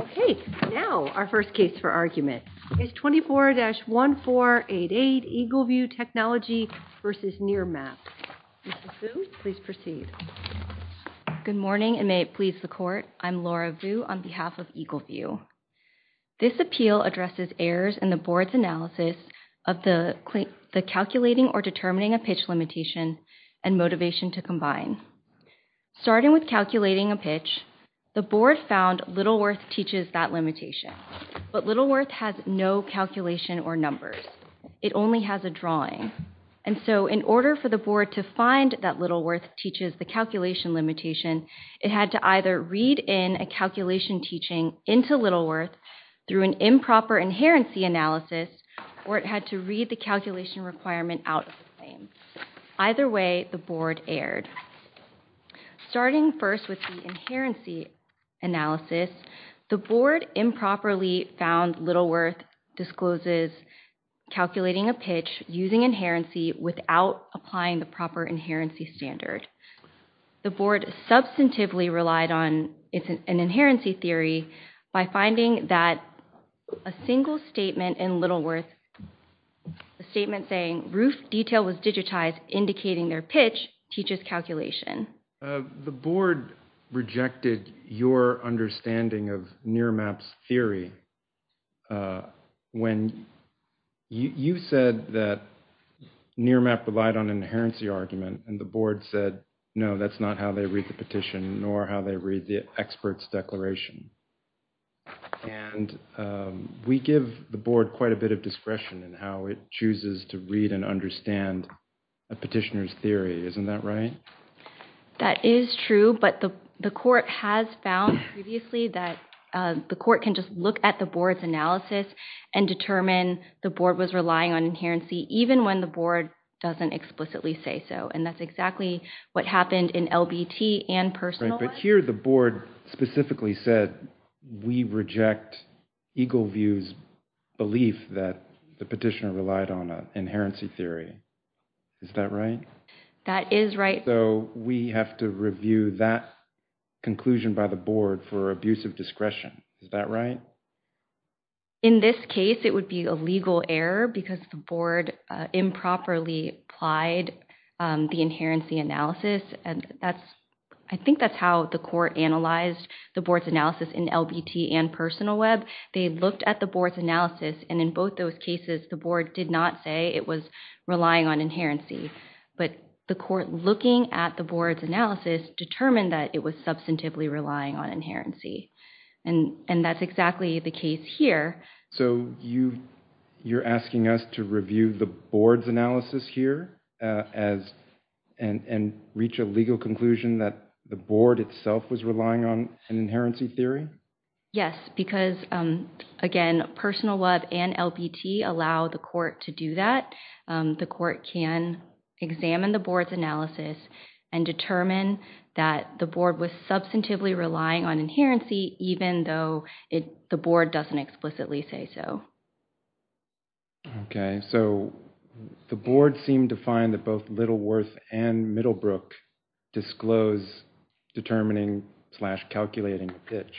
Okay, now our first case for argument is 24-1488 Eagle View Technology v. Nearmap. Mrs. Vu, please proceed. Good morning, and may it please the court. I'm Laura Vu on behalf of Eagle View. This appeal addresses errors in the board's analysis of the calculating or determining a pitch limitation and motivation to combine. Starting with calculating a pitch, the board found Littleworth teaches that limitation, but Littleworth has no calculation or numbers. It only has a drawing. And so, in order for the board to find that Littleworth teaches the calculation limitation, it had to either read in a calculation teaching into Littleworth through an improper inherency analysis or it had to read the calculation requirement out of the claim. Either way, the board erred. Starting first with the inherency analysis, the board improperly found Littleworth discloses calculating a pitch using inherency without applying the proper inherency standard. The board substantively relied on an inherency theory by finding that a single statement in Littleworth, a statement saying roof detail was digitized indicating their pitch teaches calculation. The board rejected your understanding of Nearmap's theory when you said that Nearmap relied on an inherency argument and the board said, no, that's not how they read the petition nor how they read the expert's declaration. And we give the board quite a bit of discretion in how it chooses to read and understand a petitioner's theory. Isn't that right? That is true, but the court has found previously that the court can just look at the board's analysis and determine the board was relying on inherency even when the board doesn't explicitly say so. And that's exactly what happened in LBT and personal life. But here the board specifically said, we reject Eagleview's belief that the petitioner relied on an inherency theory, is that right? That is right. So we have to review that conclusion by the board for abuse of discretion, is that right? In this case, it would be a legal error because the board improperly applied the inherency analysis and that's, I think that's how the court analyzed the board's analysis in LBT and personal web. They looked at the board's analysis and in both those cases, the board did not say it was relying on inherency, but the court looking at the board's analysis determined that it was substantively relying on inherency. And that's exactly the case here. So you're asking us to review the board's analysis here and reach a legal conclusion that the board itself was relying on an inherency theory? Yes, because again, personal web and LBT allow the court to do that. The court can examine the board's analysis and determine that the board was substantively relying on inherency even though the board doesn't explicitly say so. Okay, so the board seemed to find that both Littleworth and Middlebrook disclose determining slash calculating a pitch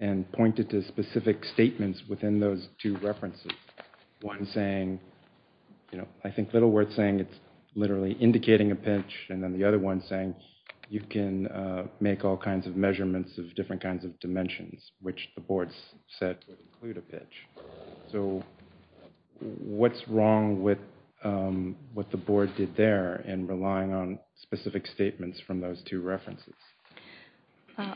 and pointed to specific statements within those two references. One saying, you know, I think Littleworth's saying it's literally indicating a pitch and then the other one saying you can make all kinds of measurements of different kinds of dimensions, which the board said would include a pitch. So what's wrong with what the board did there in relying on specific statements from those two references?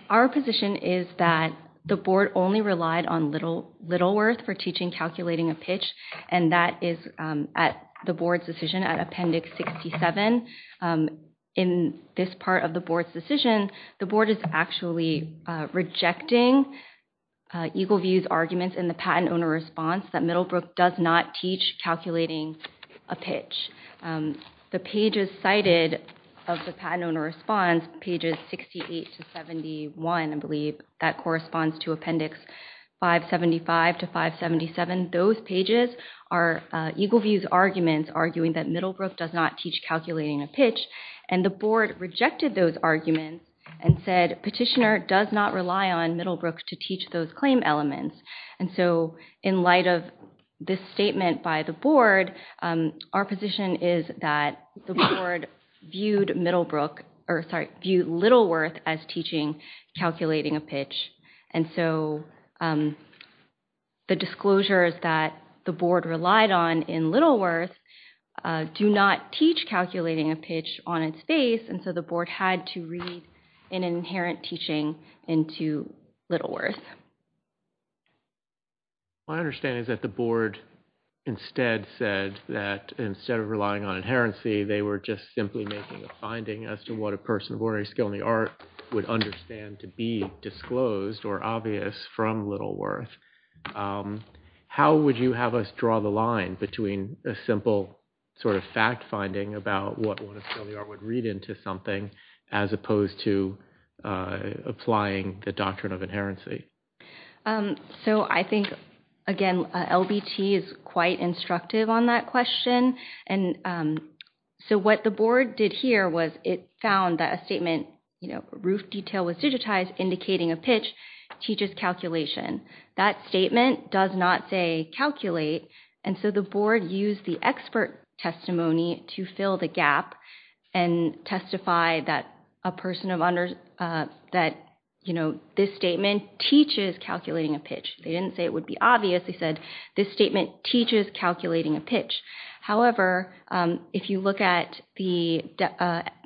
Our position is that the board only relied on Littleworth for teaching calculating a and that is at the board's decision at Appendix 67. In this part of the board's decision, the board is actually rejecting Eagleview's arguments in the patent owner response that Middlebrook does not teach calculating a pitch. The pages cited of the patent owner response, pages 68 to 71, I believe, that corresponds to Appendix 575 to 577. Those pages are Eagleview's arguments arguing that Middlebrook does not teach calculating a pitch and the board rejected those arguments and said petitioner does not rely on Middlebrook to teach those claim elements. And so in light of this statement by the board, our position is that the board viewed Littleworth as teaching calculating a pitch. And so the disclosures that the board relied on in Littleworth do not teach calculating a pitch on its face and so the board had to read an inherent teaching into Littleworth. My understanding is that the board instead said that instead of relying on inherency, they were just simply making a finding as to what a person of ordinary skill in the closed or obvious from Littleworth. How would you have us draw the line between a simple sort of fact finding about what one of skill you are would read into something as opposed to applying the doctrine of inherency? So I think, again, LBT is quite instructive on that question. And so what the board did here was it found that a statement, you know, roof detail was digitized indicating a pitch teaches calculation. That statement does not say calculate and so the board used the expert testimony to fill the gap and testify that a person of that, you know, this statement teaches calculating a pitch. They didn't say it would be obvious. They said this statement teaches calculating a pitch. However, if you look at the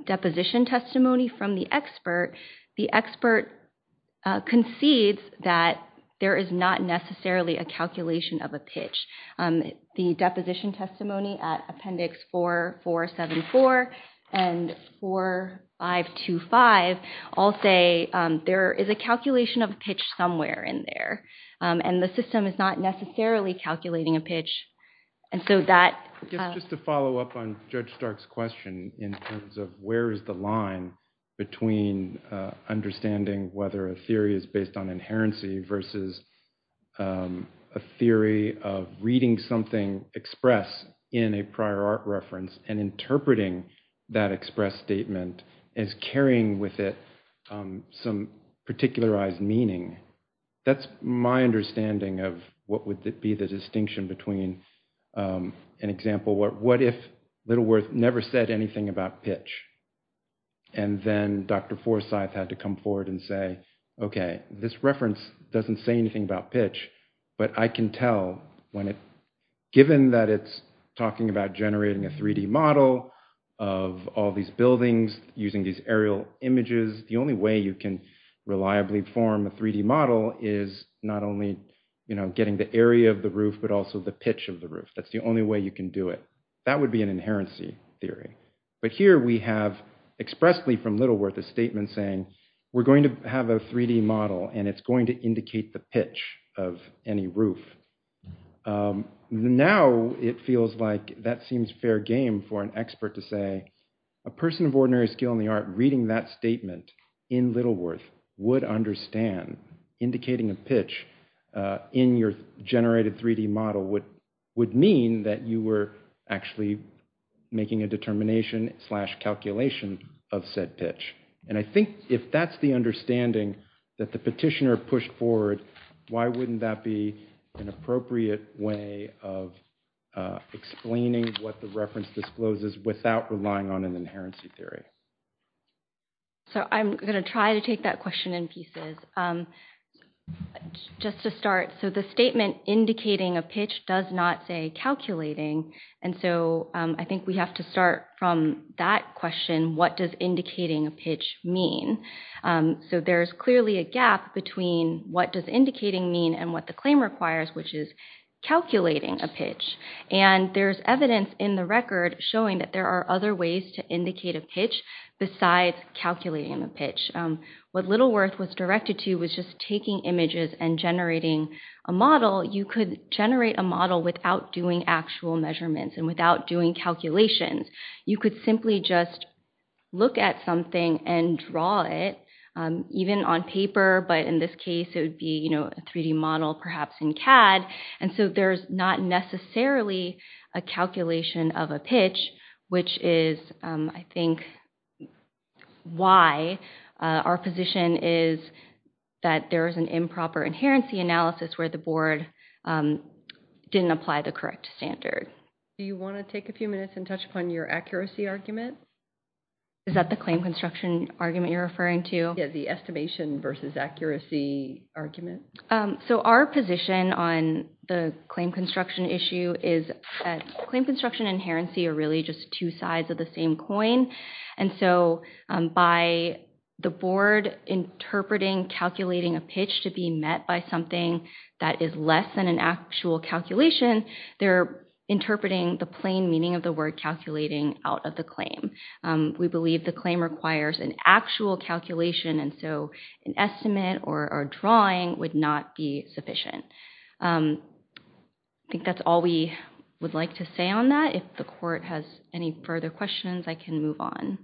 deposition testimony from the expert, the expert concedes that there is not necessarily a calculation of a pitch. The deposition testimony at appendix 4474 and 4525 all say there is a calculation of a pitch somewhere in there and the system is not necessarily calculating a pitch and so that. Just to follow up on Judge Stark's question in terms of where is the line between understanding whether a theory is based on inherency versus a theory of reading something expressed in a prior art reference and interpreting that expressed statement as carrying with it some particularized meaning. That's my understanding of what would be the distinction between an example where what if Littleworth never said anything about pitch and then Dr. Forsythe had to come forward and say, okay, this reference doesn't say anything about pitch, but I can tell when it, given that it's talking about generating a 3D model of all these buildings using these aerial images, the only way you can reliably form a 3D model is not only getting the area of the roof, but also the pitch of the roof. That's the only way you can do it. That would be an inherency theory, but here we have expressly from Littleworth a statement saying we're going to have a 3D model and it's going to indicate the pitch of any roof. Now it feels like that seems fair game for an expert to say a person of ordinary skill in the art reading that statement in Littleworth would understand indicating a pitch in your generated 3D model would mean that you were actually making a determination slash calculation of said pitch. And I think if that's the understanding that the petitioner pushed forward, why wouldn't that be an appropriate way of explaining what the reference discloses without relying on an inherency theory? So I'm going to try to take that question in pieces. Just to start, so the statement indicating a pitch does not say calculating, and so I think we have to start from that question, what does indicating a pitch mean? So there is clearly a gap between what does indicating mean and what the claim requires, which is calculating a pitch. And there's evidence in the record showing that there are other ways to indicate a pitch besides calculating a pitch. What Littleworth was directed to was just taking images and generating a model. You could generate a model without doing actual measurements and without doing calculations. You could simply just look at something and draw it, even on paper, but in this case it would be a 3D model perhaps in CAD. And so there's not necessarily a calculation of a pitch, which is, I think, why our position is that there is an improper inherency analysis where the board didn't apply the correct standard. Do you want to take a few minutes and touch upon your accuracy argument? Is that the claim construction argument you're referring to? Yeah, the estimation versus accuracy argument. So our position on the claim construction issue is that claim construction and inherency are really just two sides of the same coin. And so by the board interpreting calculating a pitch to be met by something that is less than an actual calculation, they're interpreting the plain meaning of the word calculating out of the claim. We believe the claim requires an actual calculation, and so an estimate or a drawing, which would not be sufficient. I think that's all we would like to say on that. If the court has any further questions, I can move on.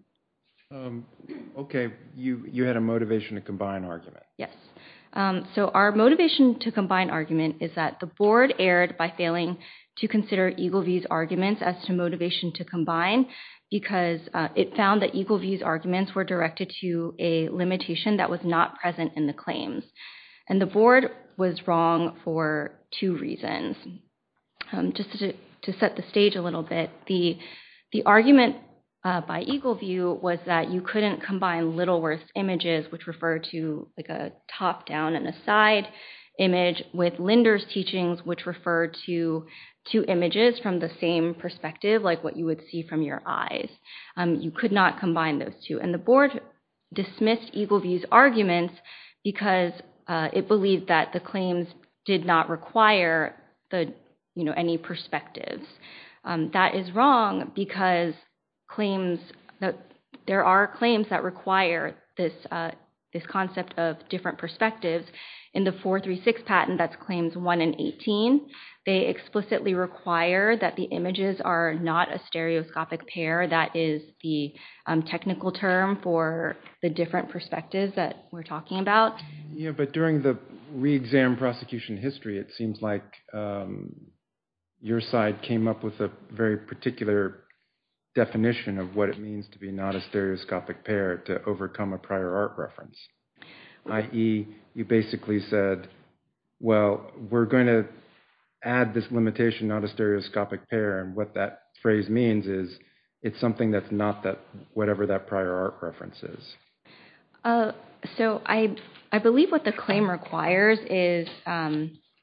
Okay. You had a motivation to combine argument. Yes. So our motivation to combine argument is that the board erred by failing to consider Eagleview's arguments as to motivation to combine because it found that Eagleview's arguments were directed to a limitation that was not present in the claims. And the board was wrong for two reasons. Just to set the stage a little bit, the argument by Eagleview was that you couldn't combine Littleworth's images, which refer to like a top-down and a side image, with Linder's teachings, which refer to two images from the same perspective, like what you would see from your eyes. You could not combine those two. And the board dismissed Eagleview's arguments because it believed that the claims did not require any perspectives. That is wrong because there are claims that require this concept of different perspectives. In the 436 patent, that's claims 1 and 18, they explicitly require that the images are not a stereoscopic pair. That is the technical term for the different perspectives that we're talking about. Yeah, but during the re-exam prosecution history, it seems like your side came up with a very particular definition of what it means to be not a stereoscopic pair to overcome a prior art reference, i.e., you basically said, well, we're going to add this limitation not a stereoscopic pair, and what that phrase means is it's something that's not whatever that prior art reference is. So, I believe what the claim requires is,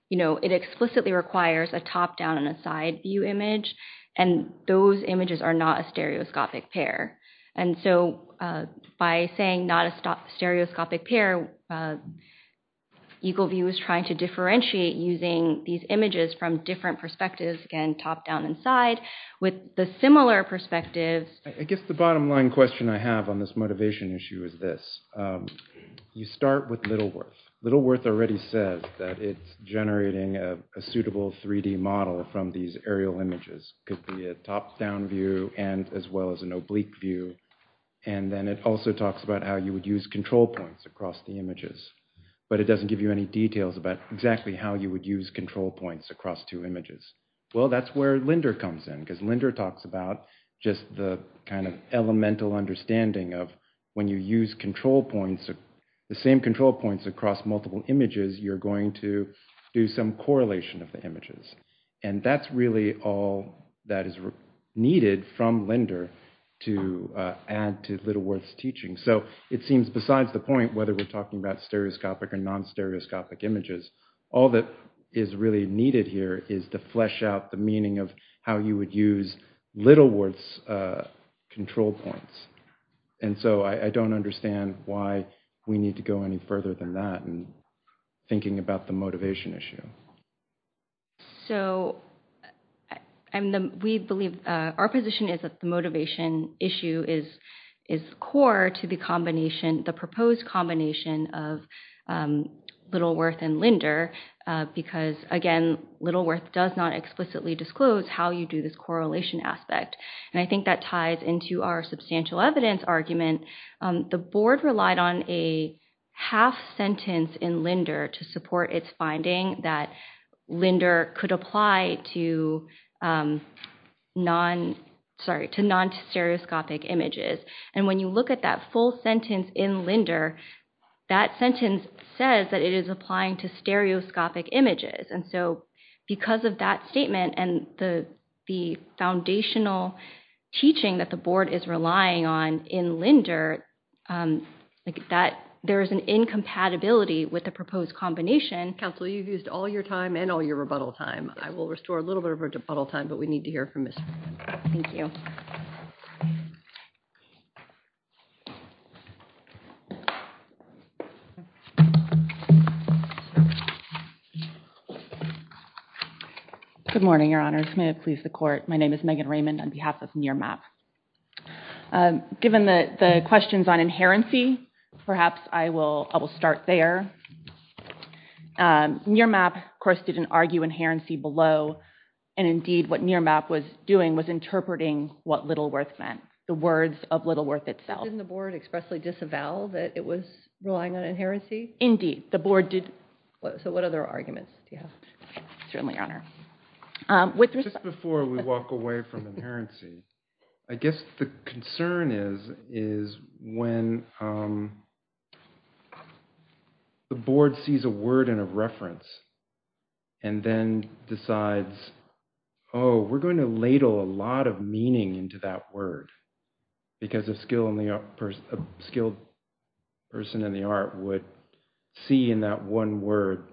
you know, it explicitly requires a top-down and a side view image, and those images are not a stereoscopic pair. And so, by saying not a stereoscopic pair, Eagleview is trying to differentiate using these images from different perspectives, again, top-down and side, with the similar perspectives. I guess the bottom line question I have on this motivation issue is this. You start with Littleworth. Littleworth already says that it's generating a suitable 3D model from these aerial images. It could be a top-down view and as well as an oblique view, and then it also talks about how you would use control points across the images, but it doesn't give you any details about exactly how you would use control points across two images. Well, that's where Linder comes in, because Linder talks about just the kind of elemental understanding of when you use control points, the same control points across multiple images, you're going to do some correlation of the images. And that's really all that is needed from Linder to add to Littleworth's teaching. So, it seems besides the point whether we're talking about stereoscopic or non-stereoscopic images, all that is really needed here is to flesh out the meaning of how you would use Littleworth's control points. And so, I don't understand why we need to go any further than that in thinking about the motivation issue. So, we believe our position is that the motivation issue is core to the proposed combination of Littleworth and Linder, because, again, Littleworth does not explicitly disclose how you do this correlation aspect, and I think that ties into our substantial evidence argument. The board relied on a half-sentence in Linder to support its finding that Linder could apply to non-stereoscopic images. And when you look at that full sentence in Linder, that sentence says that it is applying to stereoscopic images. And so, because of that statement and the foundational teaching that the board is relying on in Linder, that there is an incompatibility with the proposed combination. Counsel, you've used all your time and all your rebuttal time. I will restore a little bit of our rebuttal time, but we need to hear from Ms. Fruin. Thank you. Good morning, Your Honors. May it please the Court. My name is Megan Raymond on behalf of NIRMAP. Given the questions on inherency, perhaps I will start there. NIRMAP, of course, didn't argue inherency below, and, indeed, what NIRMAP was doing was interpreting what Littleworth meant, the words of Littleworth itself. Didn't the board expressly disavow that it was relying on inherency? The board did. So what other arguments do you have? Certainly, Your Honor. Just before we walk away from inherency, I guess the concern is when the board sees a lot of meaning into that word, because a skilled person in the art would see in that one word,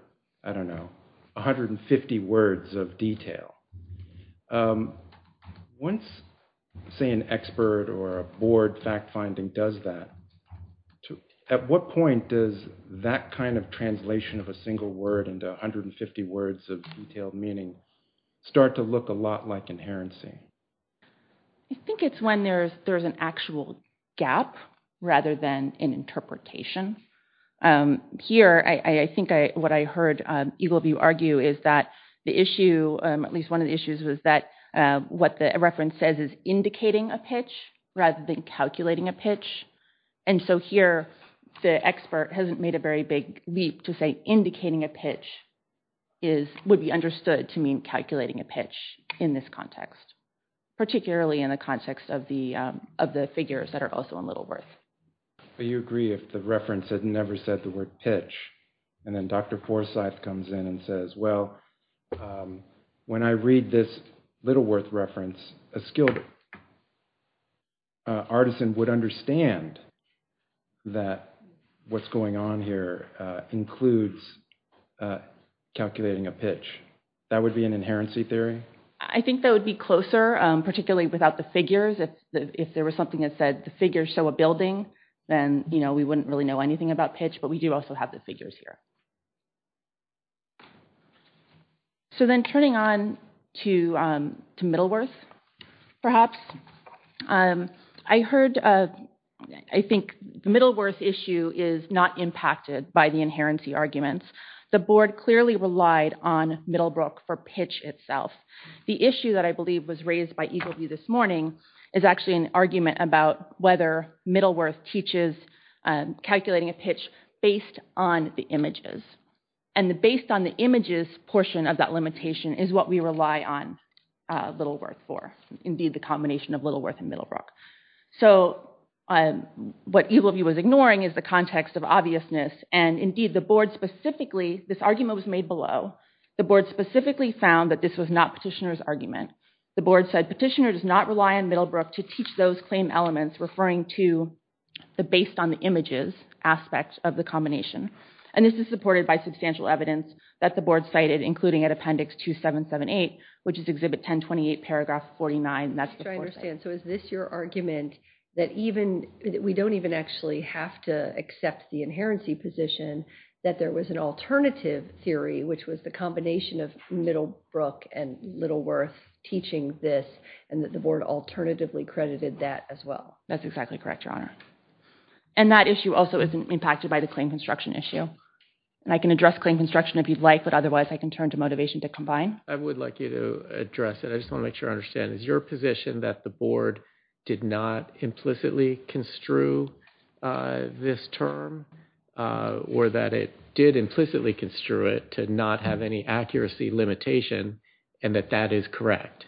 I don't know, 150 words of detail, once, say, an expert or a board fact-finding does that, at what point does that kind of translation of a single word into 150 words of detailed meaning start to look a lot like inherency? I think it's when there's an actual gap rather than an interpretation. Here, I think what I heard Eagleview argue is that the issue, at least one of the issues, was that what the reference says is indicating a pitch rather than calculating a pitch, and so here, the expert hasn't made a very big leap to say indicating a pitch would be understood to mean calculating a pitch in this context, particularly in the context of the figures that are also in Littleworth. But you agree if the reference had never said the word pitch, and then Dr. Forsythe comes in and says, well, when I read this Littleworth reference, a skilled artisan would understand that what's going on here includes calculating a pitch. That would be an inherency theory? I think that would be closer, particularly without the figures. If there was something that said the figures show a building, then we wouldn't really know anything about pitch, but we do also have the figures here. So then turning on to Middleworth, perhaps, I heard, I think the Middleworth issue is not impacted by the inherency arguments. The board clearly relied on Middlebrook for pitch itself. The issue that I believe was raised by Eagleview this morning is actually an argument about whether Middleworth teaches calculating a pitch based on the images. And based on the images portion of that limitation is what we rely on Littleworth for, indeed the combination of Littleworth and Middlebrook. So what Eagleview was ignoring is the context of obviousness, and indeed the board specifically, this argument was made below, the board specifically found that this was not Petitioner's argument. The board said Petitioner does not rely on Middlebrook to teach those claim elements referring to the based on the images aspect of the combination. And this is supported by substantial evidence that the board cited, including at Appendix 2778, which is Exhibit 1028, Paragraph 49, and that's the fourth item. I'm trying to understand. So is this your argument that even, we don't even actually have to accept the inherency position that there was an alternative theory, which was the combination of Middlebrook and Littleworth teaching this, and that the board alternatively credited that as well? That's exactly correct, Your Honor. And that issue also is impacted by the claim construction issue. And I can address claim construction if you'd like, but otherwise I can turn to motivation to combine. I would like you to address it. I just want to make sure I understand. Is your position that the board did not implicitly construe this term, or that it did implicitly construe it to not have any accuracy limitation, and that that is correct?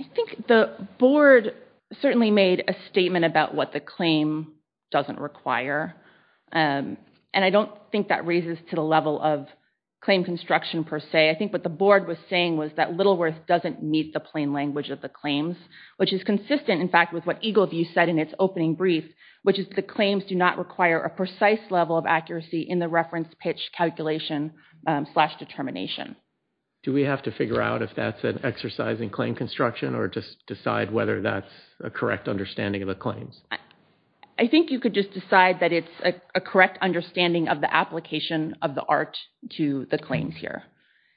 I think the board certainly made a statement about what the claim doesn't require. And I don't think that raises to the level of claim construction per se. I think what the board was saying was that Littleworth doesn't meet the plain language of the claims, which is consistent, in fact, with what Eagleview said in its opening brief, which is the claims do not require a precise level of accuracy in the reference pitch calculation slash determination. Do we have to figure out if that's an exercise in claim construction, or just decide whether that's a correct understanding of the claims? I think you could just decide that it's a correct understanding of the application of the art to the claims here.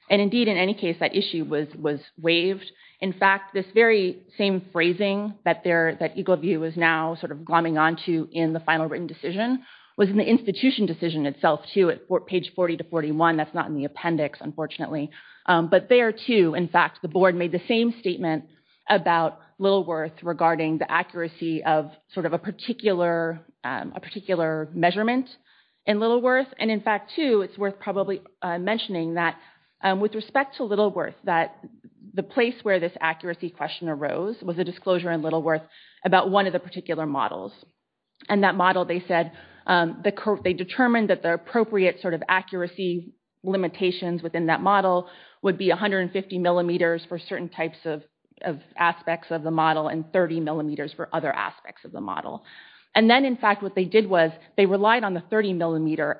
And indeed, in any case, that issue was waived. In fact, this very same phrasing that Eagleview is now sort of glomming onto in the final written decision was in the institution decision itself, too, at page 40 to 41. That's not in the appendix, unfortunately. But there, too, in fact, the board made the same statement about Littleworth regarding the accuracy of sort of a particular measurement in Littleworth. And in fact, too, it's worth probably mentioning that with respect to Littleworth, that the place where this accuracy question arose was a disclosure in Littleworth about one of the particular models. And that model, they said, they determined that the appropriate sort of accuracy limitations within that model would be 150 millimeters for certain types of aspects of the model and 30 millimeters for other aspects of the model. And then, in fact, what they did was they relied on the 30 millimeter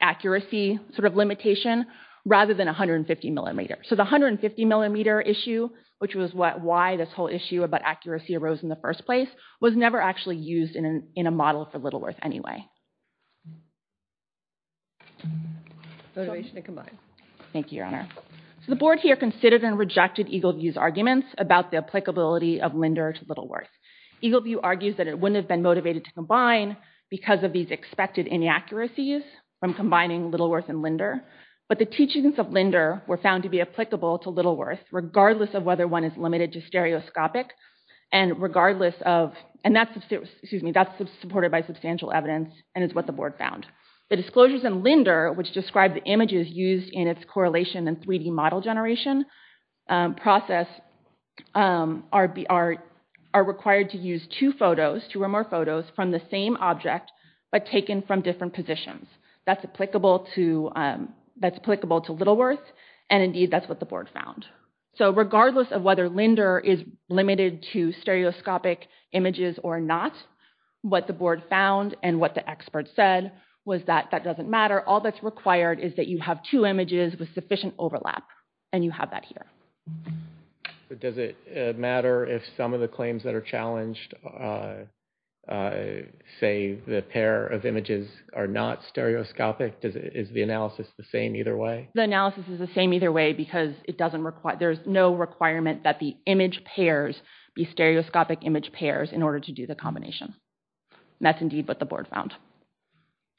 accuracy sort of limitation rather than 150 millimeters. So the 150 millimeter issue, which was why this whole issue about accuracy arose in the first place, was never actually used in a model for Littleworth anyway. Motivation to combine. Thank you, Your Honor. So the board here considered and rejected Eagleview's arguments about the applicability of Linder to Littleworth. Eagleview argues that it wouldn't have been motivated to combine because of these expected inaccuracies from combining Littleworth and Linder. But the teachings of Linder were found to be applicable to Littleworth regardless of whether one is limited to stereoscopic and regardless of, and that's supported by substantial evidence and is what the board found. The disclosures in Linder, which described the images used in its correlation and 3D model generation process, are required to use two photos, two or more photos, from the same object, but taken from different positions. That's applicable to Littleworth and indeed that's what the board found. So regardless of whether Linder is limited to stereoscopic images or not, what the board found and what the experts said was that that doesn't matter. All that's required is that you have two images with sufficient overlap and you have that here. But does it matter if some of the claims that are challenged say the pair of images are not stereoscopic? Is the analysis the same either way? The analysis is the same either way because it doesn't require, there's no requirement that the image pairs be stereoscopic image pairs in order to do the combination. And that's indeed what the board found.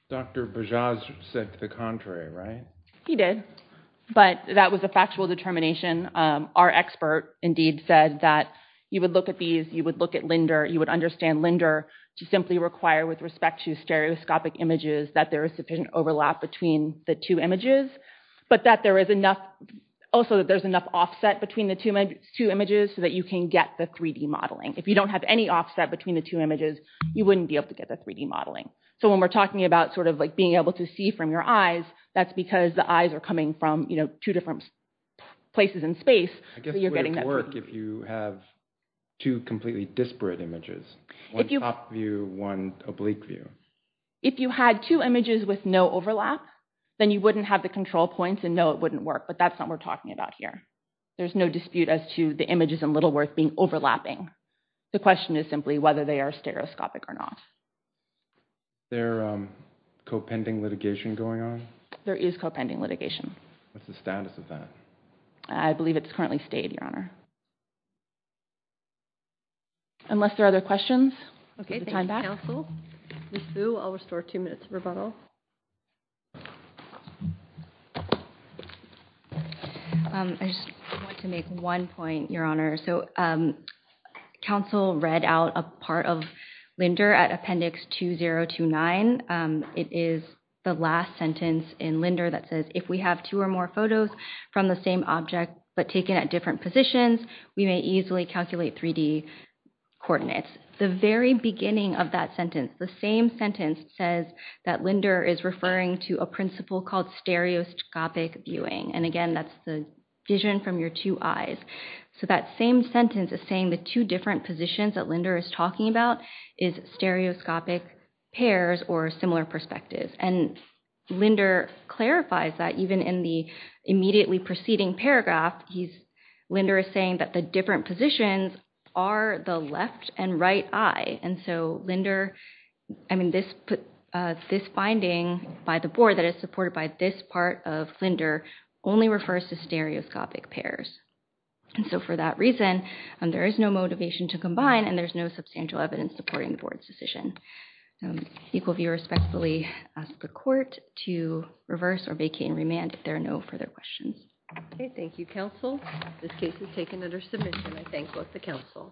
Dr. Bajaz said the contrary, right? He did. But that was a factual determination. Our expert indeed said that you would look at these, you would look at Linder, you would understand Linder to simply require with respect to stereoscopic images that there is sufficient overlap between the two images, but that there is enough, also that there's enough offset between the two images so that you can get the 3D modeling. If you don't have any offset between the two images, you wouldn't be able to get the 3D modeling. So when we're talking about sort of like being able to see from your eyes, that's because the eyes are coming from, you know, two different places in space, but you're getting that. If you have two completely disparate images, one top view, one oblique view. If you had two images with no overlap, then you wouldn't have the control points and know it wouldn't work. But that's not what we're talking about here. There's no dispute as to the images in Littleworth being overlapping. The question is simply whether they are stereoscopic or not. There co-pending litigation going on? There is co-pending litigation. What's the status of that? I believe it's currently stayed, Your Honor. Unless there are other questions, we'll get the time back. Ms. Fu, I'll restore two minutes of rebuttal. I just want to make one point, Your Honor. So counsel read out a part of Linder at Appendix 2029. It is the last sentence in Linder that says, if we have two or more photos from the same object but taken at different positions, we may easily calculate 3D coordinates. The very beginning of that sentence, the same sentence says that Linder is referring to a principle called stereoscopic viewing. And again, that's the vision from your two eyes. So that same sentence is saying the two different positions that Linder is talking about is stereoscopic pairs or similar perspectives. And Linder clarifies that even in the immediately preceding paragraph, Linder is saying that the different positions are the left and right eye. And so Linder, I mean, this finding by the board that is supported by this part of Linder only refers to stereoscopic pairs. And so for that reason, there is no motivation to combine and there's no substantial evidence supporting the board's decision. Equal view respectfully ask the court to reverse or vacate and remand if there are no further questions. Okay. Thank you, counsel. This case is taken under submission. I thank both the counsel.